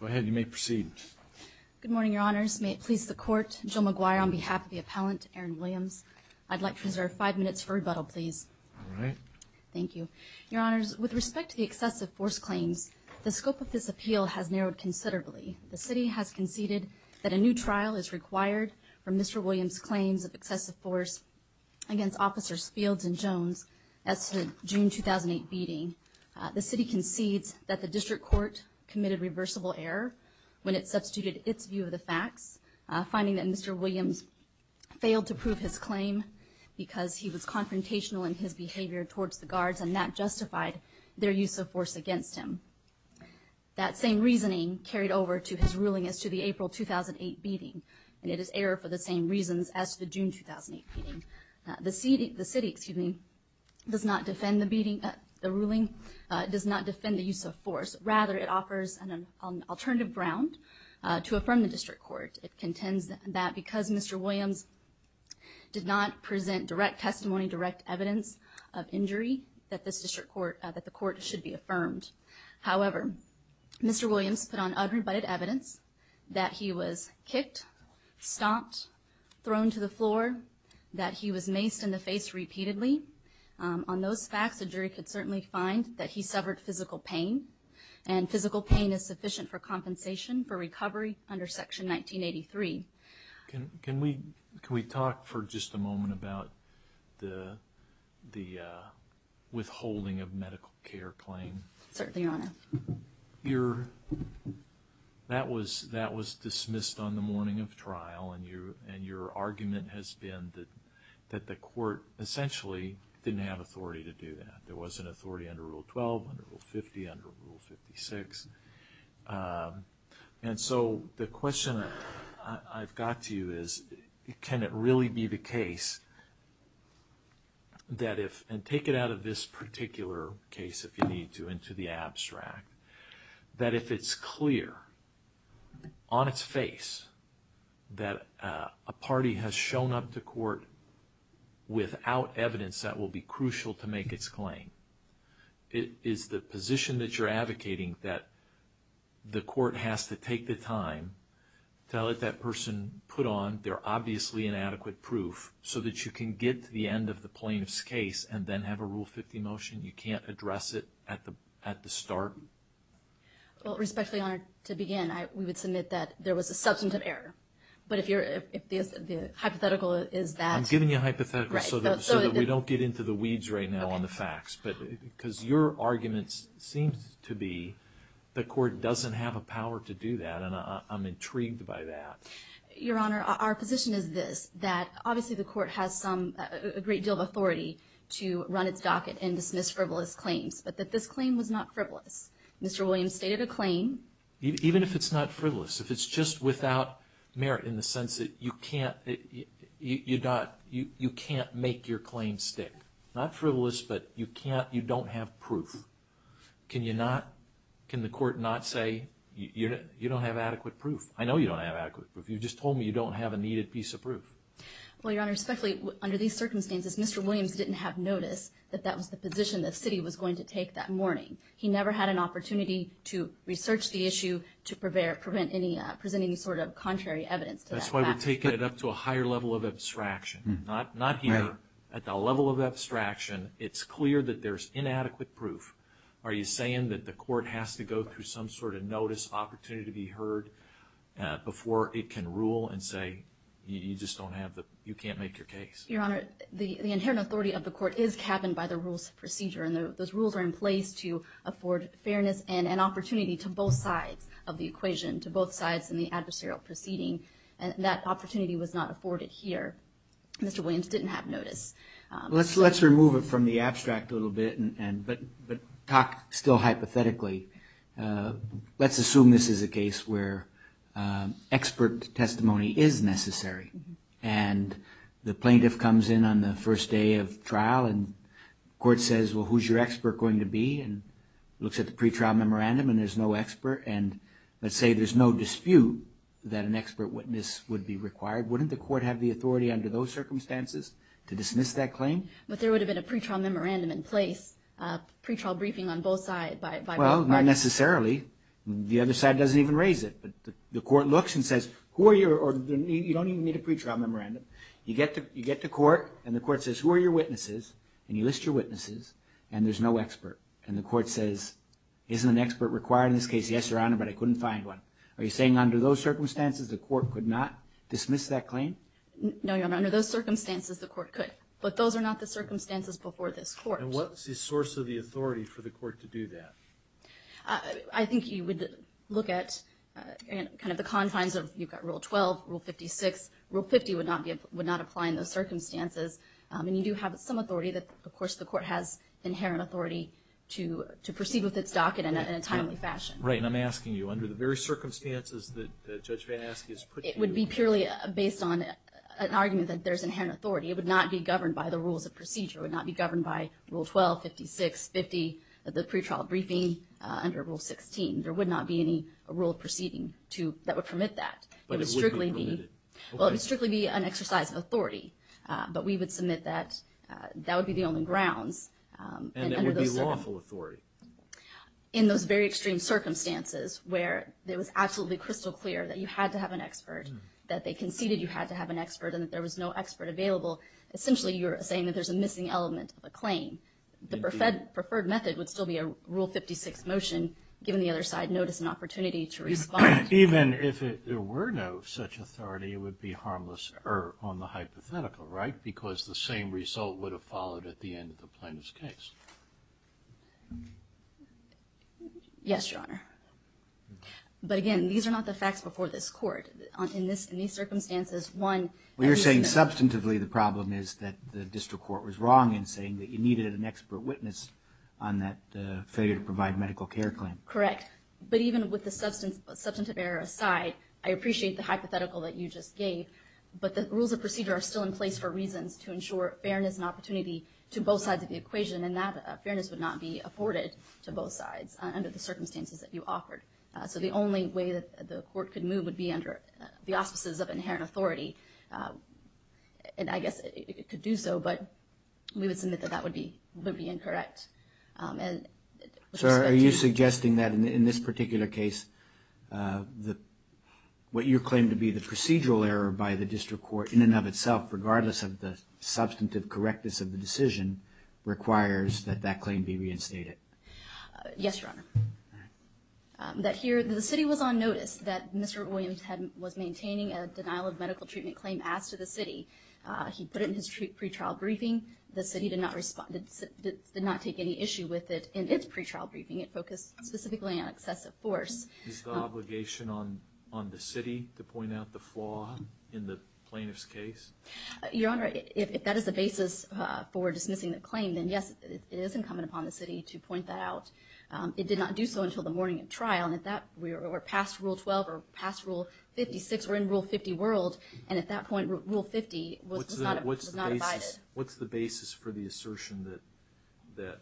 Go ahead, you may proceed. Good morning, Your Honors. May it please the Court, Jill McGuire on behalf of the appellant, Erin Williams, I'd like to reserve five minutes for rebuttal, please. All right. Thank you. Your Honors, with respect to the excessive force claims, the scope of this appeal has narrowed considerably. The City has conceded that a new trial is required for Mr. Williams' claims of excessive force against Officers Fields and Jones as to the June 2008 beating. The City concedes that the District Court committed reversible error when it substituted its view of the facts, finding that Mr. Williams failed to prove his claim because he was confrontational in his behavior towards the guards and that justified their use of force against him. That same reasoning carried over to his ruling as to the April 2008 beating, and it is error for the same reasons as to the June 2008 beating. The City does not defend the ruling, does not defend the use of force. However, Mr. Williams put on unrebutted evidence that he was kicked, stomped, thrown to the floor, that he was maced in the face repeatedly. On those facts, a jury could certainly find that he suffered physical pain, and physical pain is sufficient for compensation for recovery under Section 1983. Can we talk for just a moment about the withholding of medical care claim? Certainly, Your Honor. That was dismissed on the morning of trial, and your argument has been that the court essentially didn't have authority to do that. There wasn't authority under Rule 12, under Rule 50, under Rule 56. And so the question I've got to you is, can it really be the case that if, and take it out of this particular case if you need to, into the abstract, that if it's clear on its face that a party has shown up to court without evidence that will be crucial to make its claim, is the position that you're advocating that the court has to take the time to let that person put on their obviously inadequate proof so that you can get to the end of the plaintiff's case and then have a Rule 50 motion? You can't address it at the start? Well, respectfully, Your Honor, to begin, we would submit that there was a substantive error. But if the hypothetical is that... I'm giving you a hypothetical so that we don't get into the weeds right now on the facts. Because your argument seems to be the court doesn't have a power to do that, and I'm intrigued by that. Your Honor, our position is this, that obviously the court has a great deal of authority to run its docket and dismiss frivolous claims, but that this claim was not frivolous. Mr. Williams stated a claim... Even if it's not frivolous, if it's just without merit in the sense that you can't make your claim stick. Not frivolous, but you don't have proof. Can the court not say, you don't have adequate proof? I know you don't have adequate proof. You just told me you don't have a needed piece of proof. Well, Your Honor, respectfully, under these circumstances, Mr. Williams didn't have notice that that was the position the city was going to take that morning. He never had an opportunity to research the issue to present any sort of contrary evidence to that fact. That's why we're taking it up to a higher level of abstraction. Not here. At the level of abstraction, it's clear that there's inadequate proof. Are you saying that the court has to go through some sort of notice opportunity to be heard before it can rule and say, you just don't have the, you can't make your case? Your Honor, the inherent authority of the court is capped by the rules of procedure. And those rules are in place to afford fairness and an opportunity to both sides of the equation, to both sides in the adversarial proceeding. And that opportunity was not afforded here. Mr. Williams didn't have notice. Let's remove it from the abstract a little bit, but talk still hypothetically. Let's assume this is a case where expert testimony is necessary. And the plaintiff comes in on the first day of trial and the court says, well, who's your expert going to be? And looks at the pre-trial memorandum and there's no expert. And let's say there's no dispute that an expert witness would be required. Wouldn't the court have the authority under those circumstances to dismiss that claim? But there would have been a pre-trial memorandum in place, a pre-trial briefing on both sides. Well, not necessarily. The other side doesn't even raise it. But the court looks and says, who are your, you don't even need a pre-trial memorandum. You get to court and the court says, who are your witnesses? And you list your witnesses and there's no expert. And the court says, isn't an expert required in this case? Yes, Your Honor, but I couldn't find one. Are you saying under those circumstances, the court could not dismiss that claim? No, Your Honor, under those circumstances, the court could. But those are not the circumstances before this court. And what's the source of the authority for the court to do that? I think you would look at kind of the confines of, you've got Rule 12, Rule 56. Rule 50 would not apply in those circumstances. And you do have some authority that, of course, the court has inherent authority to proceed with its docket in a timely fashion. Right, and I'm asking you, under the very circumstances that Judge Van Aske has put you. It would be purely based on an argument that there's inherent authority. It would not be governed by the rules of procedure. It would not be governed by Rule 12, 56, 50, the pre-trial briefing under Rule 16. There would not be any rule of proceeding to, that would permit that. But it would be limited. Well, it would strictly be an exercise of authority. But we would submit that, that would be the only grounds. And it would be lawful authority. In those very extreme circumstances, where it was absolutely crystal clear that you had to have an expert, that they conceded you had to have an expert, and that there was no expert available. Essentially, you're saying that there's a missing element of a claim. The preferred method would still be a Rule 56 motion, given the other side notice and opportunity to respond. Even if there were no such authority, it would be harmless on the hypothetical, right? Because the same result would have followed at the end of the plaintiff's case. Yes, Your Honor. But again, these are not the facts before this court. In these circumstances, one... Well, you're saying substantively the problem is that the district court was wrong in saying that you needed an expert witness on that failure to provide medical care claim. Correct. But even with the substantive error aside, I appreciate the hypothetical that you just gave. But the rules of procedure are still in place for reasons to ensure fairness and opportunity to both sides of the equation, and that fairness would not be afforded to both sides under the circumstances that you offered. So the only way that the court could move would be under the auspices of inherent authority. And I guess it could do so, but we would submit that that would be incorrect. Sir, are you suggesting that in this particular case, what you claim to be the procedural error by the district court in and of itself, regardless of the substantive correctness of the decision, requires that that claim be reinstated? Yes, Your Honor. That here, the city was on notice that Mr. Williams was maintaining a denial of medical treatment claim as to the city. He put it in his pre-trial briefing. The city did not take any issue with it in its pre-trial briefing. It focused specifically on excessive force. Is the obligation on the city to point out the flaw in the plaintiff's case? Your Honor, if that is the basis for dismissing the claim, then yes, it is incumbent upon the city to point that out. It did not do so until the morning of trial, and if that, we're past Rule 12 or past Rule 56, we're in Rule 50 world, and at that point, Rule 50 was not abided. What's the basis for the assertion that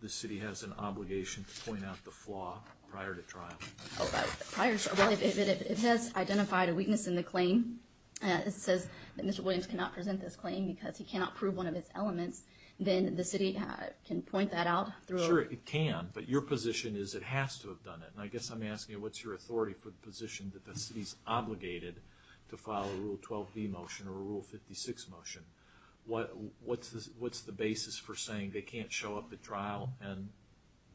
the city has an obligation to point out the flaw prior to trial? Well, if it has identified a weakness in the claim, it says that Mr. Williams cannot present this claim because he cannot prove one of its elements, then the city can point that out. Sure, it can, but your position is it has to have done it, and I guess I'm asking what's your authority for the position that the city's obligated to follow a Rule 12b motion or a Rule 56 motion? What's the basis for saying they can't show up at trial and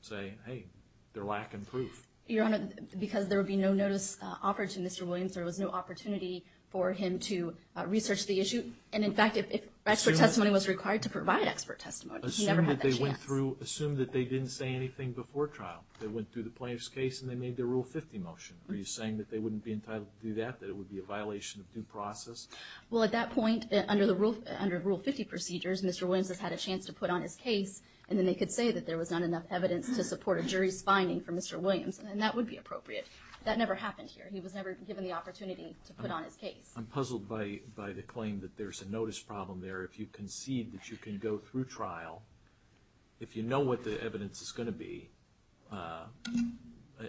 say, hey, they're lacking proof? Your Honor, because there would be no notice offered to Mr. Williams, there was no opportunity for him to research the issue, and in fact, if expert testimony was required to provide expert testimony, he never had that chance. Assume that they didn't say anything before trial. They went through the plaintiff's case and they made their Rule 50 motion. Are you saying that they wouldn't be entitled to do that, that it would be a violation of due process? Well, at that point, under Rule 50 procedures, Mr. Williams has had a chance to put on his case, and then they could say that there was not enough evidence to support a jury's finding for Mr. Williams, and that would be appropriate. That never happened here. He was never given the opportunity to put on his case. I'm puzzled by the claim that there's a notice problem there. If you concede that you can go through trial, if you know what the evidence is going to be,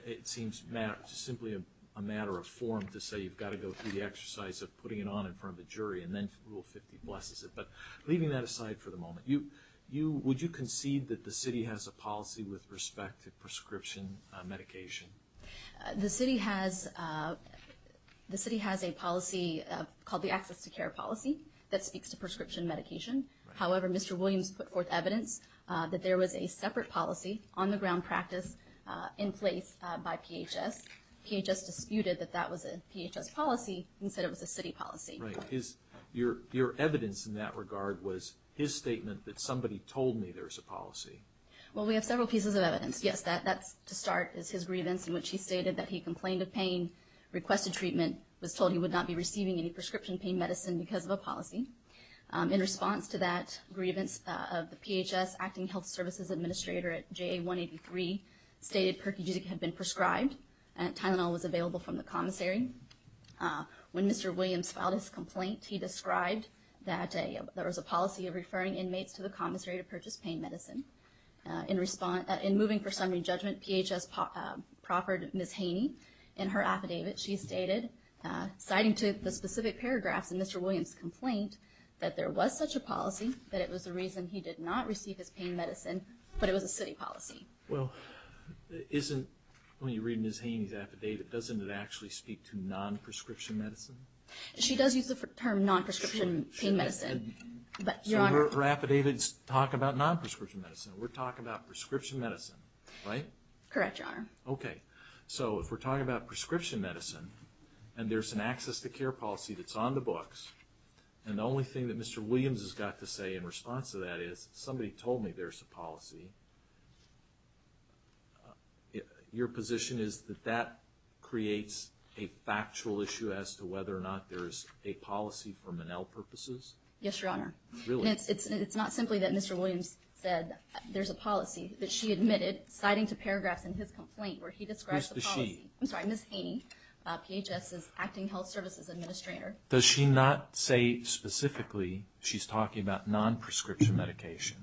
it seems simply a matter of form to say you've got to go through the exercise of putting it on in front of the jury, and then Rule 50 blesses it. But leaving that aside for the moment, would you concede that the city has a policy with respect to prescription medication? The city has a policy called the Access to Care Policy that speaks to prescription medication. However, Mr. Williams put forth evidence that there was a separate policy on the ground practice in place by PHS. PHS disputed that that was a PHS policy and said it was a city policy. Right. Your evidence in that regard was his statement that somebody told me there's a policy. Well, we have several pieces of evidence. Yes, that's to start is his grievance in which he stated that he complained of pain, requested treatment, was told he would not be receiving any prescription pain medicine because of a policy. In response to that grievance of the PHS Acting Health Services Administrator at JA 183, stated Perkins had been prescribed and Tylenol was available from the commissary. When Mr. Williams filed his complaint, he described that there was a policy of referring inmates to the commissary to purchase pain medicine. In moving for summary judgment, PHS proffered Ms. Haney in her affidavit. She stated, citing to the specific paragraphs in Mr. Williams' complaint, that there was such a policy that it was the reason he did not receive his pain medicine, but it was a city policy. Well, isn't, when you read Ms. Haney's affidavit, doesn't it actually speak to non-prescription medicine? She does use the term non-prescription pain medicine. So her affidavits talk about non-prescription medicine. We're talking about prescription medicine, right? Correct, Your Honor. Okay. So if we're talking about prescription medicine and there's an access to care policy that's on the books, and the only thing that Mr. Williams has got to say in response to that is, somebody told me there's a policy, your position is that that creates a factual issue as to whether or not there's a policy for Monell purposes? Yes, Your Honor. Really? It's not simply that Mr. Williams said there's a policy, that she admitted, citing to paragraphs in his complaint where he described the policy. Who's the she? I'm sorry, Ms. Haney, PHS's Acting Health Services Administrator. Does she not say specifically she's talking about non-prescription medication?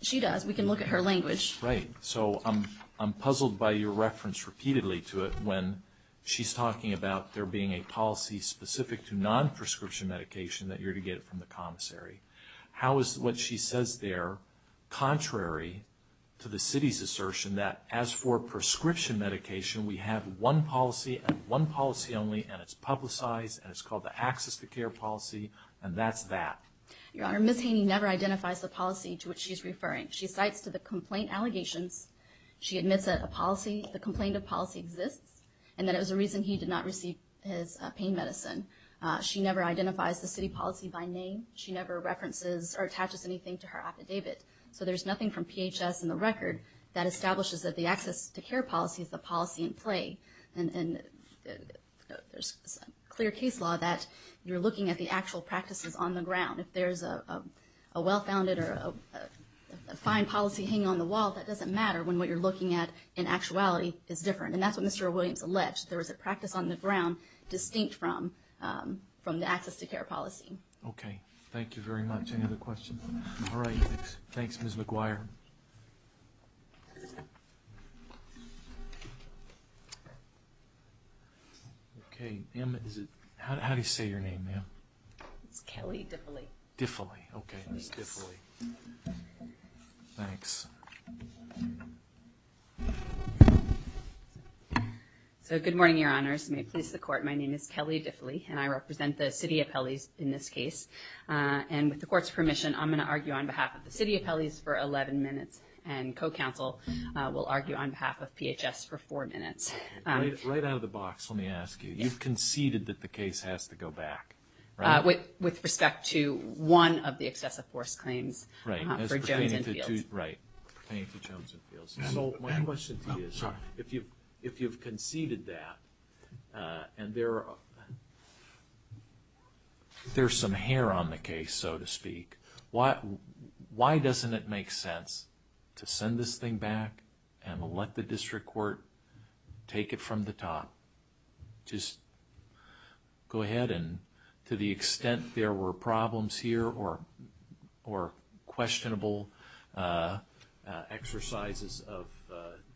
She does. We can look at her language. Right. So I'm puzzled by your reference repeatedly to it when she's talking about there being a policy specific to non-prescription medication that you're to get it from the commissary. How is what she says there contrary to the city's assertion that as for prescription medication, we have one policy and one policy only, and it's publicized, and it's called the access to care policy, and that's that? Your Honor, Ms. Haney never identifies the policy to which she's referring. She cites to the complaint allegations. She admits that a policy, the complaint of policy exists, and that it was a reason he did not receive his pain medicine. She never identifies the city policy by name. She never references or attaches anything to her affidavit. So there's nothing from PHS in the record that establishes that the access to care policy is the policy in play. And there's clear case law that you're looking at the actual practices on the ground. If there's a well-founded or a fine policy hanging on the wall, that doesn't matter when what you're looking at in actuality is different. And that's what Mr. Williams alleged, that there was a practice on the ground distinct from the access to care policy. Thank you. Okay. Thank you very much. Any other questions? All right. Thanks, Ms. McGuire. Okay. How do you say your name, ma'am? It's Kelly Diffley. Diffley. Okay, Ms. Diffley. Thanks. So good morning, Your Honors. May it please the Court. My name is Kelly Diffley, and I represent the city appellees in this case. And with the Court's permission, I'm going to argue on behalf of the city appellees for 11 minutes, and co-counsel will argue on behalf of PHS for four minutes. Right out of the box, let me ask you. You've conceded that the case has to go back, right? With respect to one of the excessive force claims for Jones and Fields. Right. Thank you, Jones and Fields. So my question to you is, if you've conceded that, and there's some hair on the case, so to speak, why doesn't it make sense to send this thing back and let the district court take it from the top? Just go ahead. And to the extent there were problems here or questionable exercises of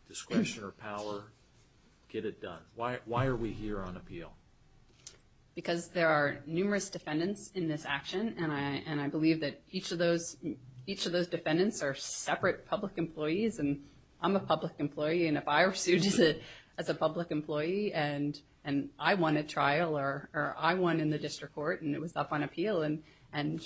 discretion or power, get it done. Why are we here on appeal? Because there are numerous defendants in this action, and I believe that each of those defendants are separate public employees, and I'm a public employee. And if I were sued as a public employee, and I won a trial, or I won in the district court, and it was up on appeal, and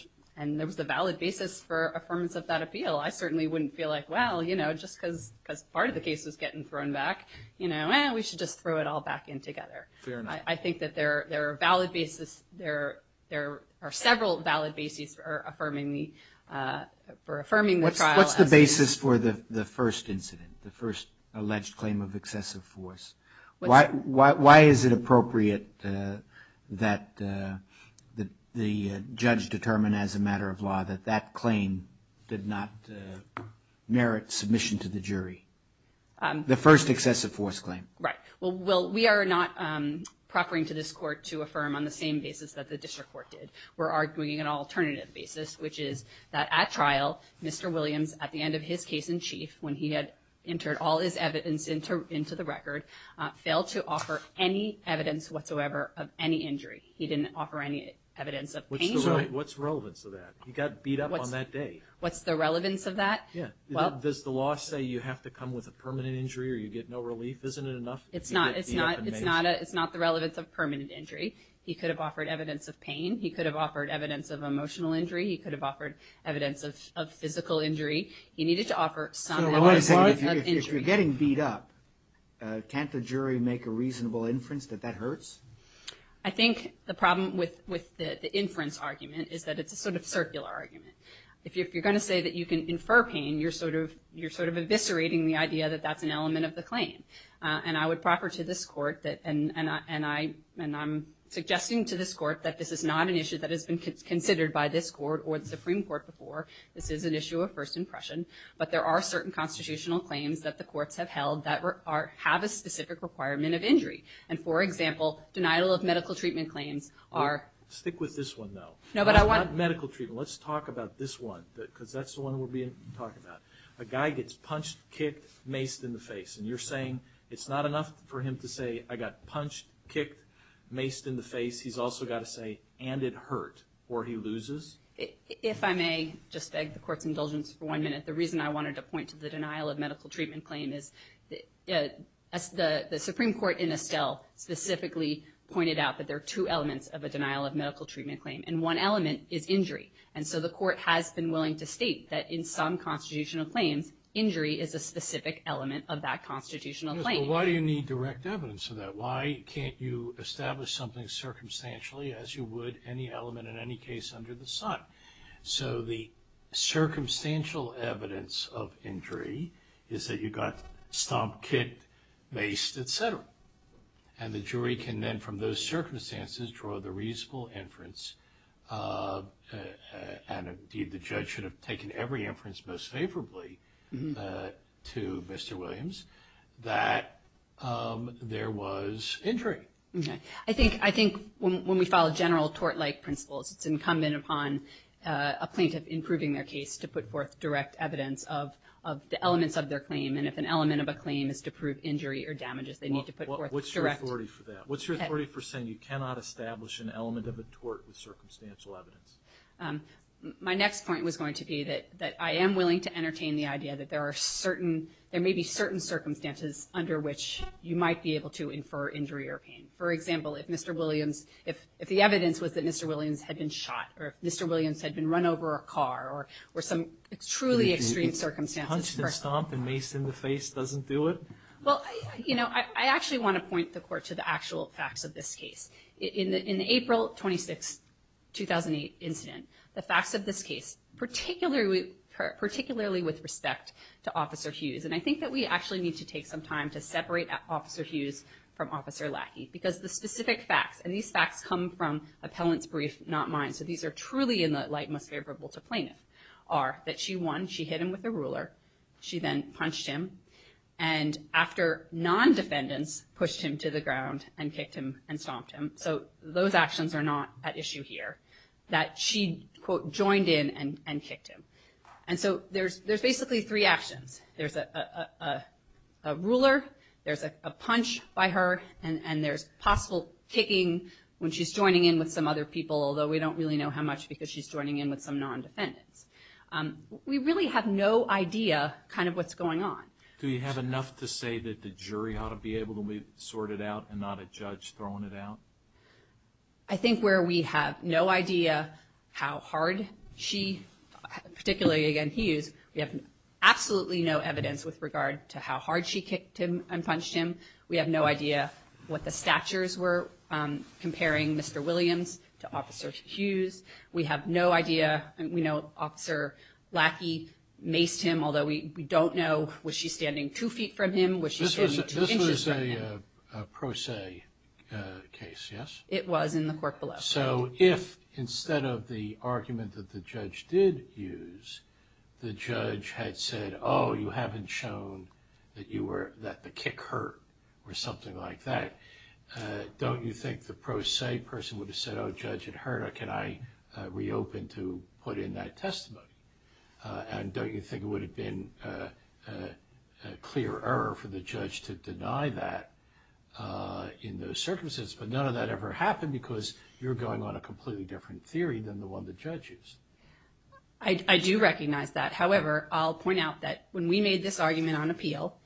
there was a valid basis for affirmance of that appeal, I certainly wouldn't feel like, well, you know, just because part of the case was getting thrown back, you know, we should just throw it all back in together. Fair enough. I think that there are valid basis, there are several valid basis for affirming the trial. What's the basis for the first incident, the first alleged claim of excessive force? Why is it appropriate that the judge determine as a matter of law that that claim did not merit submission to the jury? The first excessive force claim. Right. Well, we are not proffering to this court to affirm on the same basis that the district court did. We're arguing an alternative basis, which is that at trial, Mr. Williams, at the end of his case in chief, when he had entered all his evidence into the record, failed to offer any evidence whatsoever of any injury. He didn't offer any evidence of pain. What's the relevance of that? He got beat up on that day. What's the relevance of that? Does the law say you have to come with a permanent injury or you get no relief? Isn't it enough? It's not the relevance of permanent injury. He could have offered evidence of pain. He could have offered evidence of emotional injury. He could have offered evidence of physical injury. He needed to offer some evidence of injury. If you're getting beat up, can't the jury make a reasonable inference that that hurts? I think the problem with the inference argument is that it's a sort of circular argument. If you're going to say that you can infer pain, you're sort of eviscerating the idea that that's an element of the claim. I would proffer to this court, and I'm suggesting to this court, that this is not an issue that has been considered by this court or the Supreme Court before. This is an issue of first impression. But there are certain constitutional claims that the courts have held that have a specific requirement of injury. For example, denial of medical treatment claims are- Stick with this one, though. Not medical treatment. Let's talk about this one because that's the one we'll be talking about. A guy gets punched, kicked, maced in the face, and you're saying it's not enough for him to say, I got punched, kicked, maced in the face. He's also got to say, and it hurt, or he loses? If I may, just beg the court's indulgence for one minute. The reason I wanted to point to the denial of medical treatment claim is the Supreme Court in Estelle specifically pointed out that there are two elements of a denial of medical treatment claim, and one element is injury. And so the court has been willing to state that in some constitutional claims, injury is a specific element of that constitutional claim. Yes, but why do you need direct evidence of that? Why can't you establish something circumstantially as you would any element in any case under the sun? So the circumstantial evidence of injury is that you got stomped, kicked, maced, et cetera. And the jury can then from those circumstances draw the reasonable inference, and indeed the judge should have taken every inference most favorably to Mr. Williams, that there was injury. I think when we follow general tort-like principles, it's incumbent upon a plaintiff in proving their case to put forth direct evidence of the elements of their claim. And if an element of a claim is to prove injury or damages, they need to put forth direct. What's your authority for that? What's your authority for saying you cannot establish an element of a tort with circumstantial evidence? My next point was going to be that I am willing to entertain the idea that there are certain, there may be certain circumstances under which you might be able to infer injury or pain. For example, if Mr. Williams, if the evidence was that Mr. Williams had been shot, or if Mr. Williams had been run over a car, or some truly extreme circumstances. So a hunched and stomped and maced in the face doesn't do it? Well, you know, I actually want to point the court to the actual facts of this case. In the April 26, 2008 incident, the facts of this case, particularly with respect to Officer Hughes, and I think that we actually need to take some time to separate Officer Hughes from Officer Lackey, because the specific facts, and these facts come from appellant's brief, not mine, so these are truly in the light most favorable to plaintiff, are that she won, she hit him with a ruler, she then punched him, and after non-defendants pushed him to the ground and kicked him and stomped him, so those actions are not at issue here, that she, quote, joined in and kicked him. And so there's basically three actions. There's a ruler, there's a punch by her, and there's possible kicking when she's joining in with some other people, although we don't really know how much because she's joining in with some non-defendants. We really have no idea kind of what's going on. Do you have enough to say that the jury ought to be able to sort it out and not a judge throwing it out? I think where we have no idea how hard she, particularly, again, Hughes, we have absolutely no evidence with regard to how hard she kicked him and punched him. We have no idea what the statures were comparing Mr. Williams to Officer Hughes. We have no idea. We know Officer Lackey maced him, although we don't know, was she standing two feet from him, was she standing two inches from him? This was a pro se case, yes? It was in the court below. So if instead of the argument that the judge did use, the judge had said, oh, you haven't shown that the kick hurt or something like that, don't you think the pro se person would have said, oh, judge, it hurt, or can I reopen to put in that testimony? And don't you think it would have been a clear error for the judge to deny that in those circumstances? But none of that ever happened because you're going on a completely different theory than the one the judge used. I do recognize that. However, I'll point out that when we made this argument on appeal,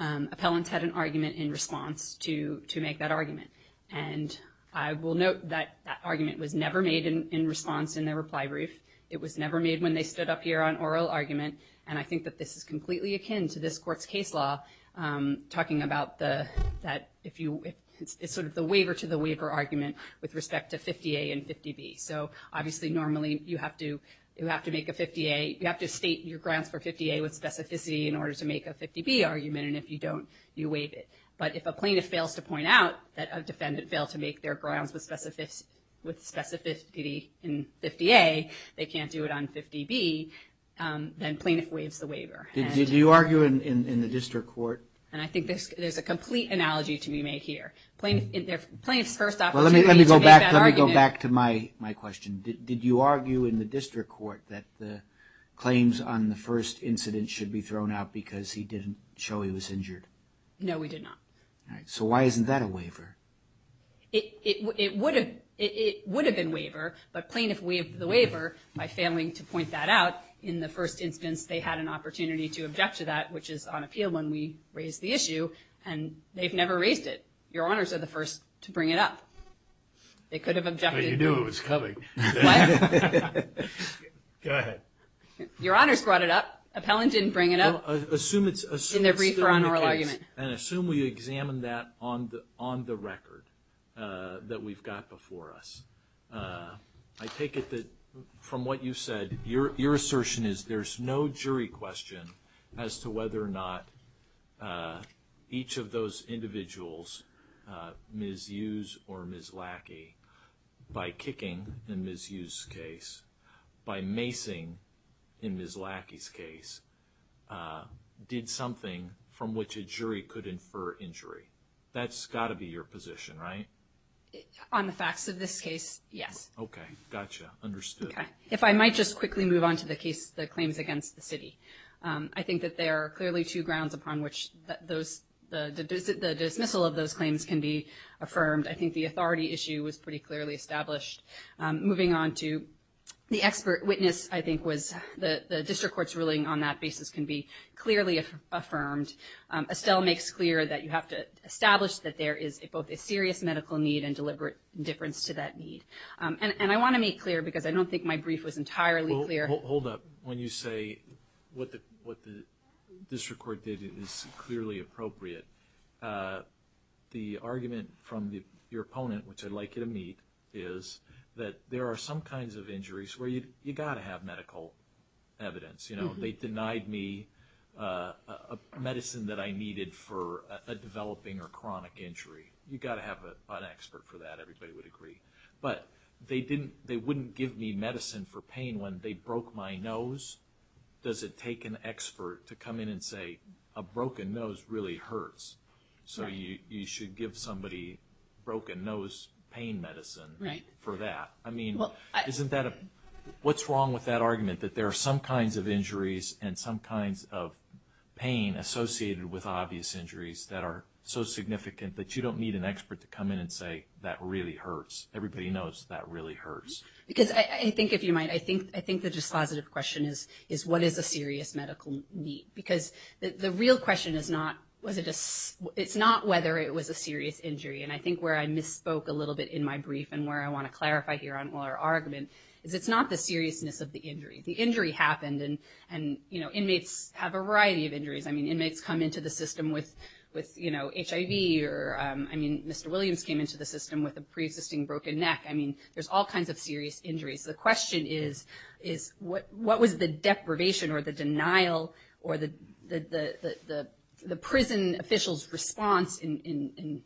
appellants had an argument in response to make that argument, and I will note that that argument was never made in response in the reply brief. It was never made when they stood up here on oral argument, and I think that this is completely akin to this court's case law talking about that if you ‑‑ it's sort of the waiver to the waiver argument with respect to 50A and 50B. So obviously normally you have to make a 50A, you have to state your grounds for 50A with specificity in order to make a 50B argument, and if you don't, you waive it. But if a plaintiff fails to point out that a defendant failed to make their grounds with specificity in 50A, they can't do it on 50B, then plaintiff waives the waiver. Do you argue in the district court? And I think there's a complete analogy to be made here. Plaintiff's first opportunity to make that argument. Let me go back to my question. Did you argue in the district court that the claims on the first incident should be thrown out because he didn't show he was injured? No, we did not. All right. So why isn't that a waiver? It would have been waiver, but plaintiff waived the waiver by failing to point that out. In the first instance, they had an opportunity to object to that, which is on appeal when we raise the issue, and they've never raised it. Your Honors are the first to bring it up. They could have objected. But you knew it was coming. What? Go ahead. Your Honors brought it up. Appellant didn't bring it up in their brief or on oral argument. And assume we examine that on the record that we've got before us. I take it that from what you said, your assertion is there's no jury question as to whether or not each of those individuals, Ms. Hughes or Ms. Lackey, by kicking in Ms. Hughes' case, by macing in Ms. Lackey's case, did something from which a jury could infer injury. That's got to be your position, right? On the facts of this case, yes. Okay. Gotcha. Understood. If I might just quickly move on to the case, the claims against the city. I think that there are clearly two grounds upon which the dismissal of those claims can be affirmed. I think the authority issue was pretty clearly established. Moving on to the expert witness, I think was the district court's ruling on that basis can be clearly affirmed. Estelle makes clear that you have to establish that there is both a serious medical need and deliberate difference to that need. And I want to make clear, because I don't think my brief was entirely clear. Well, hold up. When you say what the district court did is clearly appropriate, the argument from your opponent, which I'd like you to meet, is that there are some kinds of injuries where you've got to have medical evidence. You know, they denied me a medicine that I needed for a developing or chronic injury. You've got to have an expert for that. Everybody would agree. But they wouldn't give me medicine for pain when they broke my nose. Does it take an expert to come in and say a broken nose really hurts, so you should give somebody broken nose pain medicine for that? What's wrong with that argument, that there are some kinds of injuries and some kinds of pain associated with obvious injuries that are so significant that you don't need an expert to come in and say that really hurts? Everybody knows that really hurts. Because I think, if you might, I think the dispositive question is what is a serious medical need? Because the real question is not whether it was a serious injury. And I think where I misspoke a little bit in my brief and where I want to clarify here on our argument is it's not the seriousness of the injury. The injury happened, and, you know, inmates have a variety of injuries. I mean, inmates come into the system with, you know, HIV or, I mean, Mr. Williams came into the system with a preexisting broken neck. I mean, there's all kinds of serious injuries. The question is what was the deprivation or the denial or the prison officials' response in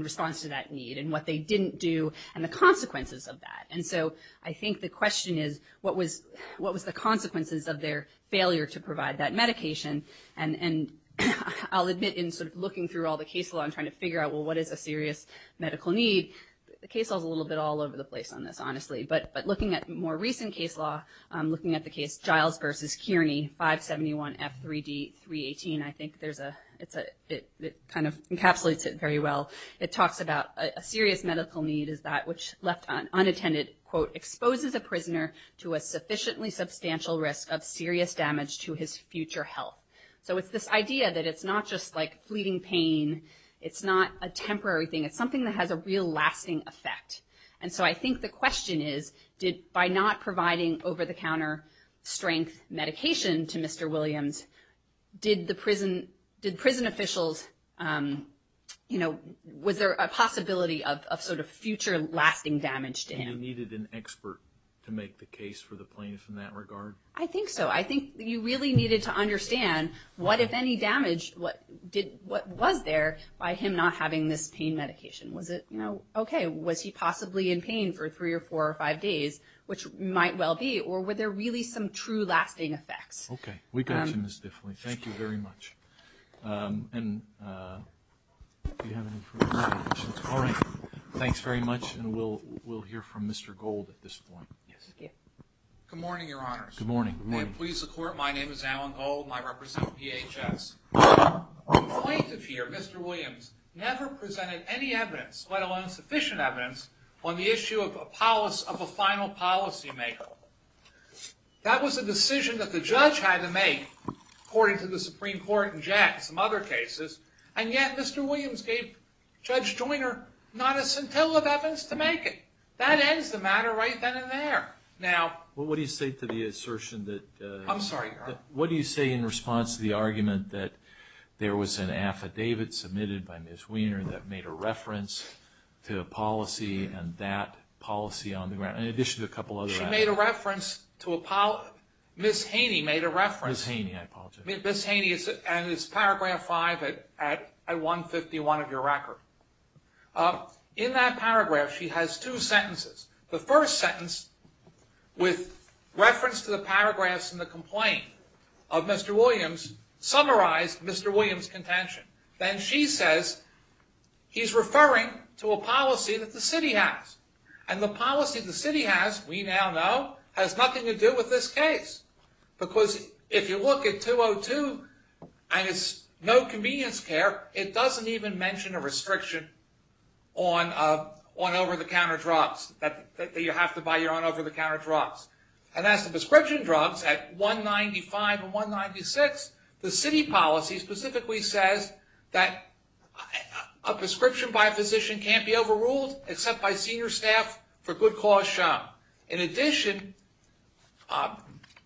response to that need and what they didn't do and the consequences of that? And so I think the question is what was the consequences of their failure to provide that medication? And I'll admit in sort of looking through all the case law and trying to figure out, well, what is a serious medical need, the case law is a little bit all over the place on this, honestly. But looking at more recent case law, looking at the case Giles v. Kearney, 571F3D318, I think it kind of encapsulates it very well. It talks about a serious medical need is that which left unattended, quote, exposes a prisoner to a sufficiently substantial risk of serious damage to his future health. So it's this idea that it's not just like fleeting pain. It's not a temporary thing. It's something that has a real lasting effect. And so I think the question is, by not providing over-the-counter strength medication to Mr. Williams, did prison officials, you know, was there a possibility of sort of future lasting damage to him? And you needed an expert to make the case for the plaintiff in that regard? I think so. I think you really needed to understand what, if any, damage was there by him not having this pain medication. Was it, you know, okay, was he possibly in pain for three or four or five days, which might well be, or were there really some true lasting effects? Okay. We got you, Ms. Diffley. Thank you very much. And do you have any further questions? All right. Thanks very much. And we'll hear from Mr. Gold at this point. Yes. Thank you. Good morning, Your Honors. Good morning. May it please the Court, my name is Alan Gold, and I represent DHS. The plaintiff here, Mr. Williams, never presented any evidence, let alone sufficient evidence, on the issue of a final policymaker. That was a decision that the judge had to make, according to the Supreme Court and Jack and some other cases, and yet Mr. Williams gave Judge Joyner not a scintilla of evidence to make it. That ends the matter right then and there. Now, what do you say to the assertion that? I'm sorry, Your Honor. What do you say in response to the argument that there was an affidavit submitted by Ms. Wiener that made a reference to a policy and that policy on the ground, in addition to a couple other affidavits? She made a reference to a policy. Ms. Haney made a reference. Ms. Haney, I apologize. Ms. Haney, and it's Paragraph 5 at 151 of your record. In that paragraph, she has two sentences. The first sentence, with reference to the paragraphs in the complaint of Mr. Williams, summarized Mr. Williams' contention. Then she says he's referring to a policy that the city has, and the policy the city has, we now know, has nothing to do with this case because if you look at 202 and it's no convenience care, it doesn't even mention a restriction on over-the-counter drugs, that you have to buy your own over-the-counter drugs. And as to prescription drugs at 195 and 196, the city policy specifically says that a prescription by a physician can't be overruled except by senior staff for good cause shown. In addition,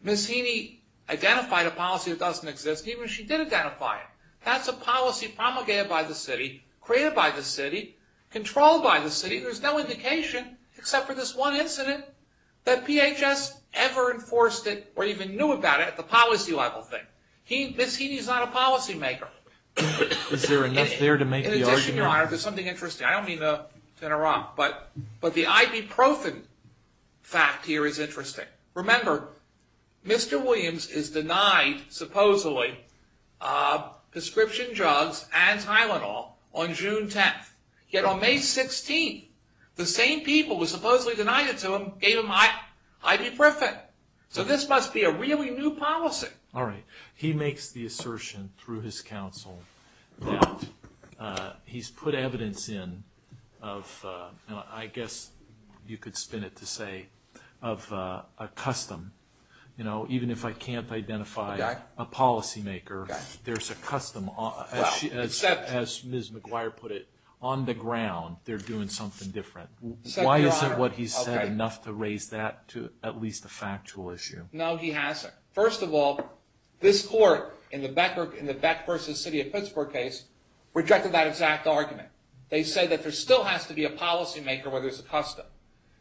Ms. Haney identified a policy that doesn't exist, even if she did identify it. That's a policy promulgated by the city, created by the city, controlled by the city. There's no indication, except for this one incident, that PHS ever enforced it or even knew about it at the policy level thing. Ms. Haney's not a policymaker. Is there enough there to make the argument? In addition, Your Honor, there's something interesting. I don't mean to interrupt, but the ibuprofen fact here is interesting. Remember, Mr. Williams is denied, supposedly, prescription drugs and Tylenol on June 10th. Yet on May 16th, the same people who supposedly denied it to him gave him ibuprofen. So this must be a really new policy. All right. He makes the assertion through his counsel that he's put evidence in of, I guess you could spin it to say, of a custom. Even if I can't identify a policymaker, there's a custom. As Ms. McGuire put it, on the ground, they're doing something different. Why isn't what he said enough to raise that to at least a factual issue? No, he hasn't. First of all, this court in the Beck v. City of Pittsburgh case rejected that exact argument. They say that there still has to be a policymaker where there's a custom.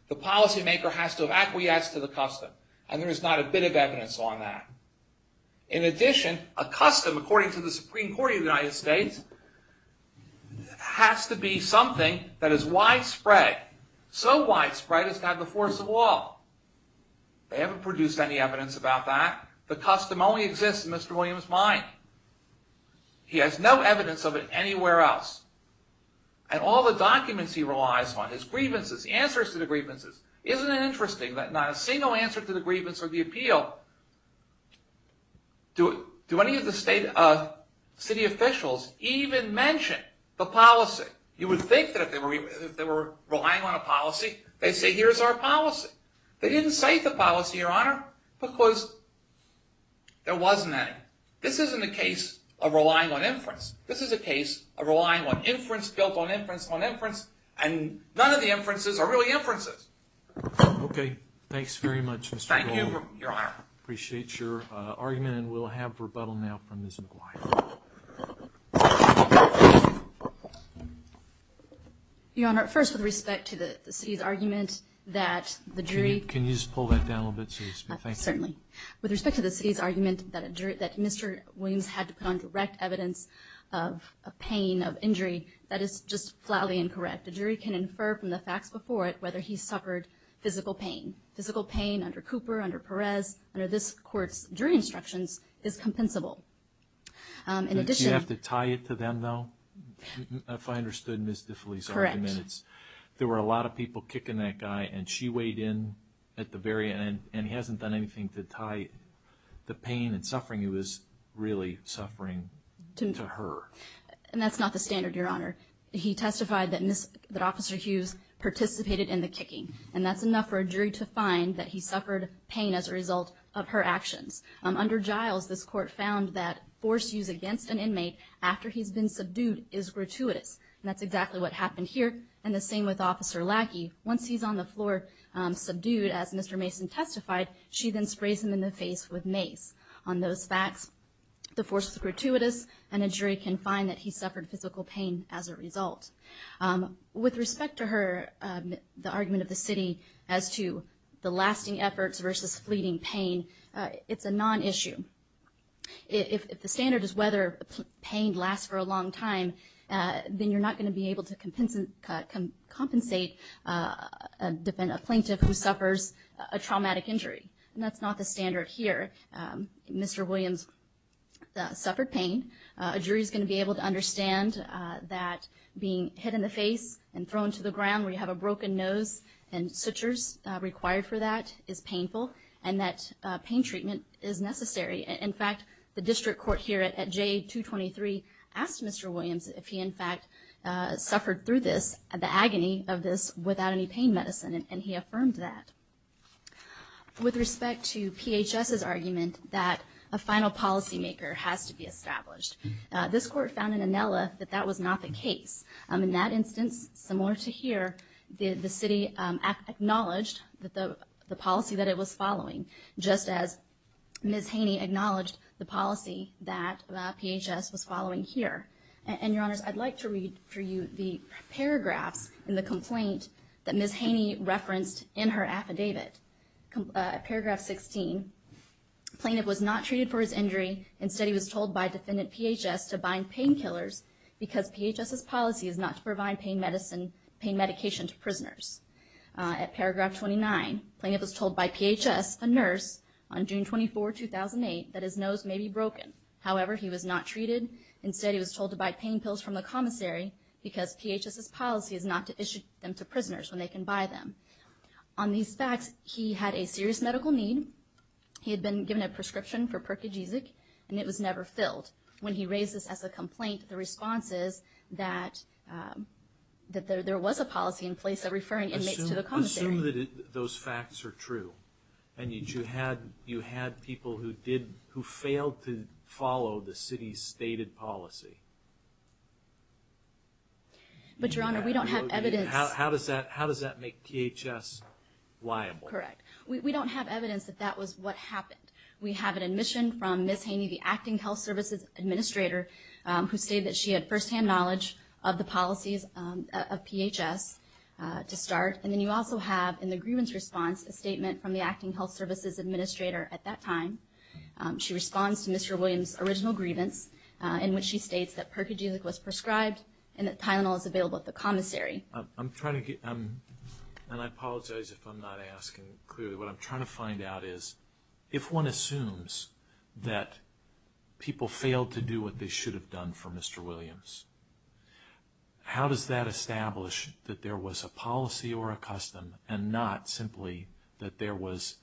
The policymaker has to have acquiesced to the custom, and there is not a bit of evidence on that. In addition, a custom, according to the Supreme Court of the United States, has to be something that is widespread. So widespread, it's got the force of law. They haven't produced any evidence about that. The custom only exists in Mr. Williams' mind. He has no evidence of it anywhere else. And all the documents he relies on, his grievances, the answers to the grievances, isn't it interesting that not a single answer to the grievance or the appeal, do any of the city officials even mention the policy? You would think that if they were relying on a policy, they'd say, here's our policy. They didn't cite the policy, Your Honor, because there wasn't any. This isn't a case of relying on inference. This is a case of relying on inference, built on inference, on inference, and none of the inferences are really inferences. Okay. Thanks very much, Mr. Goldberg. Thank you, Your Honor. Appreciate your argument, and we'll have rebuttal now from Ms. McGuire. Your Honor, first, with respect to the city's argument that the jury Can you just pull that down a little bit, please? Certainly. With respect to the city's argument that Mr. Williams had to put on direct evidence of pain, of injury, that is just flatly incorrect. A jury can infer from the facts before it whether he suffered physical pain. Physical pain under Cooper, under Perez, under this court's jury instructions, is compensable. Do you have to tie it to them, though, if I understood Ms. DeFelice's argument? Correct. There were a lot of people kicking that guy, and she weighed in at the very end, and he hasn't done anything to tie the pain and suffering he was really suffering to her. And that's not the standard, Your Honor. He testified that Officer Hughes participated in the kicking, and that's enough for a jury to find that he suffered pain as a result of her actions. Under Giles, this court found that force used against an inmate after he's been subdued is gratuitous, and that's exactly what happened here, and the same with Officer Lackey. Once he's on the floor subdued, as Mr. Mason testified, she then sprays him in the face with mace. On those facts, the force is gratuitous, and a jury can find that he suffered physical pain as a result. With respect to her argument of the city as to the lasting efforts versus fleeting pain, it's a non-issue. If the standard is whether pain lasts for a long time, then you're not going to be able to compensate a plaintiff who suffers a traumatic injury, and that's not the standard here. Mr. Williams suffered pain. A jury is going to be able to understand that being hit in the face and thrown to the ground where you have a broken nose and sutures required for that is painful, and that pain treatment is necessary. In fact, the district court here at J223 asked Mr. Williams if he, in fact, suffered through this, the agony of this, without any pain medicine, and he affirmed that. With respect to PHS's argument that a final policymaker has to be established, this court found in Inela that that was not the case. In that instance, similar to here, the city acknowledged the policy that it was following, just as Ms. Haney acknowledged the policy that PHS was following here. And, Your Honors, I'd like to read for you the paragraphs in the complaint that Ms. Haney referenced in her affidavit. Paragraph 16, plaintiff was not treated for his injury. Instead, he was told by defendant PHS to bind painkillers because PHS's policy is not to provide pain medicine, pain medication to prisoners. At paragraph 29, plaintiff was told by PHS, a nurse, on June 24, 2008, that his nose may be broken. However, he was not treated. Instead, he was told to buy pain pills from the commissary because PHS's policy is not to issue them to prisoners when they can buy them. On these facts, he had a serious medical need. He had been given a prescription for Perkajizik, and it was never filled. When he raised this as a complaint, the response is that there was a policy in place of referring inmates to the commissary. Assume that those facts are true, and that you had people who failed to follow the city's stated policy. But, Your Honor, we don't have evidence. How does that make PHS liable? Correct. We don't have evidence that that was what happened. We have an admission from Ms. Haney, the Acting Health Services Administrator, who stated that she had firsthand knowledge of the policies of PHS to start. And then you also have, in the grievance response, a statement from the Acting Health Services Administrator at that time. She responds to Mr. Williams' original grievance, in which she states that Perkajizik was prescribed and that Tylenol is available at the commissary. I'm trying to get, and I apologize if I'm not asking clearly. What I'm trying to find out is, if one assumes that people failed to do what they should have done for Mr. Williams, how does that establish that there was a policy or a custom, and not simply that there was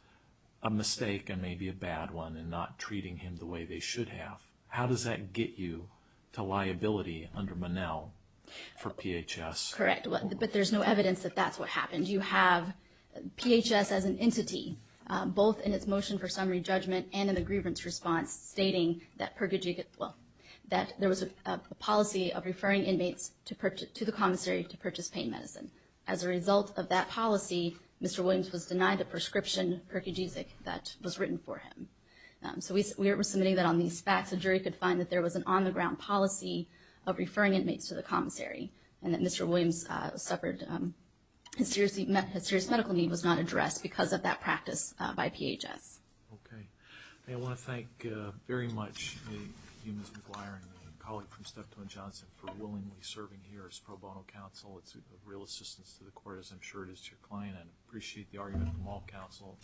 a mistake and maybe a bad one in not treating him the way they should have? How does that get you to liability under Monell for PHS? Correct. But there's no evidence that that's what happened. You have PHS as an entity, both in its motion for summary judgment and in the grievance response, stating that there was a policy of referring inmates to the commissary to purchase pain medicine. As a result of that policy, Mr. Williams was denied the prescription, Perkajizik, that was written for him. So we were submitting that on these facts. The jury could find that there was an on-the-ground policy of referring inmates to the commissary and that Mr. Williams suffered a serious medical need was not addressed because of that practice by PHS. Okay. I want to thank very much Ms. McGuire and my colleague from Steptoe & Johnson for willingly serving here as pro bono counsel. It's a real assistance to the court, as I'm sure it is to your client. I appreciate the argument from all counsel.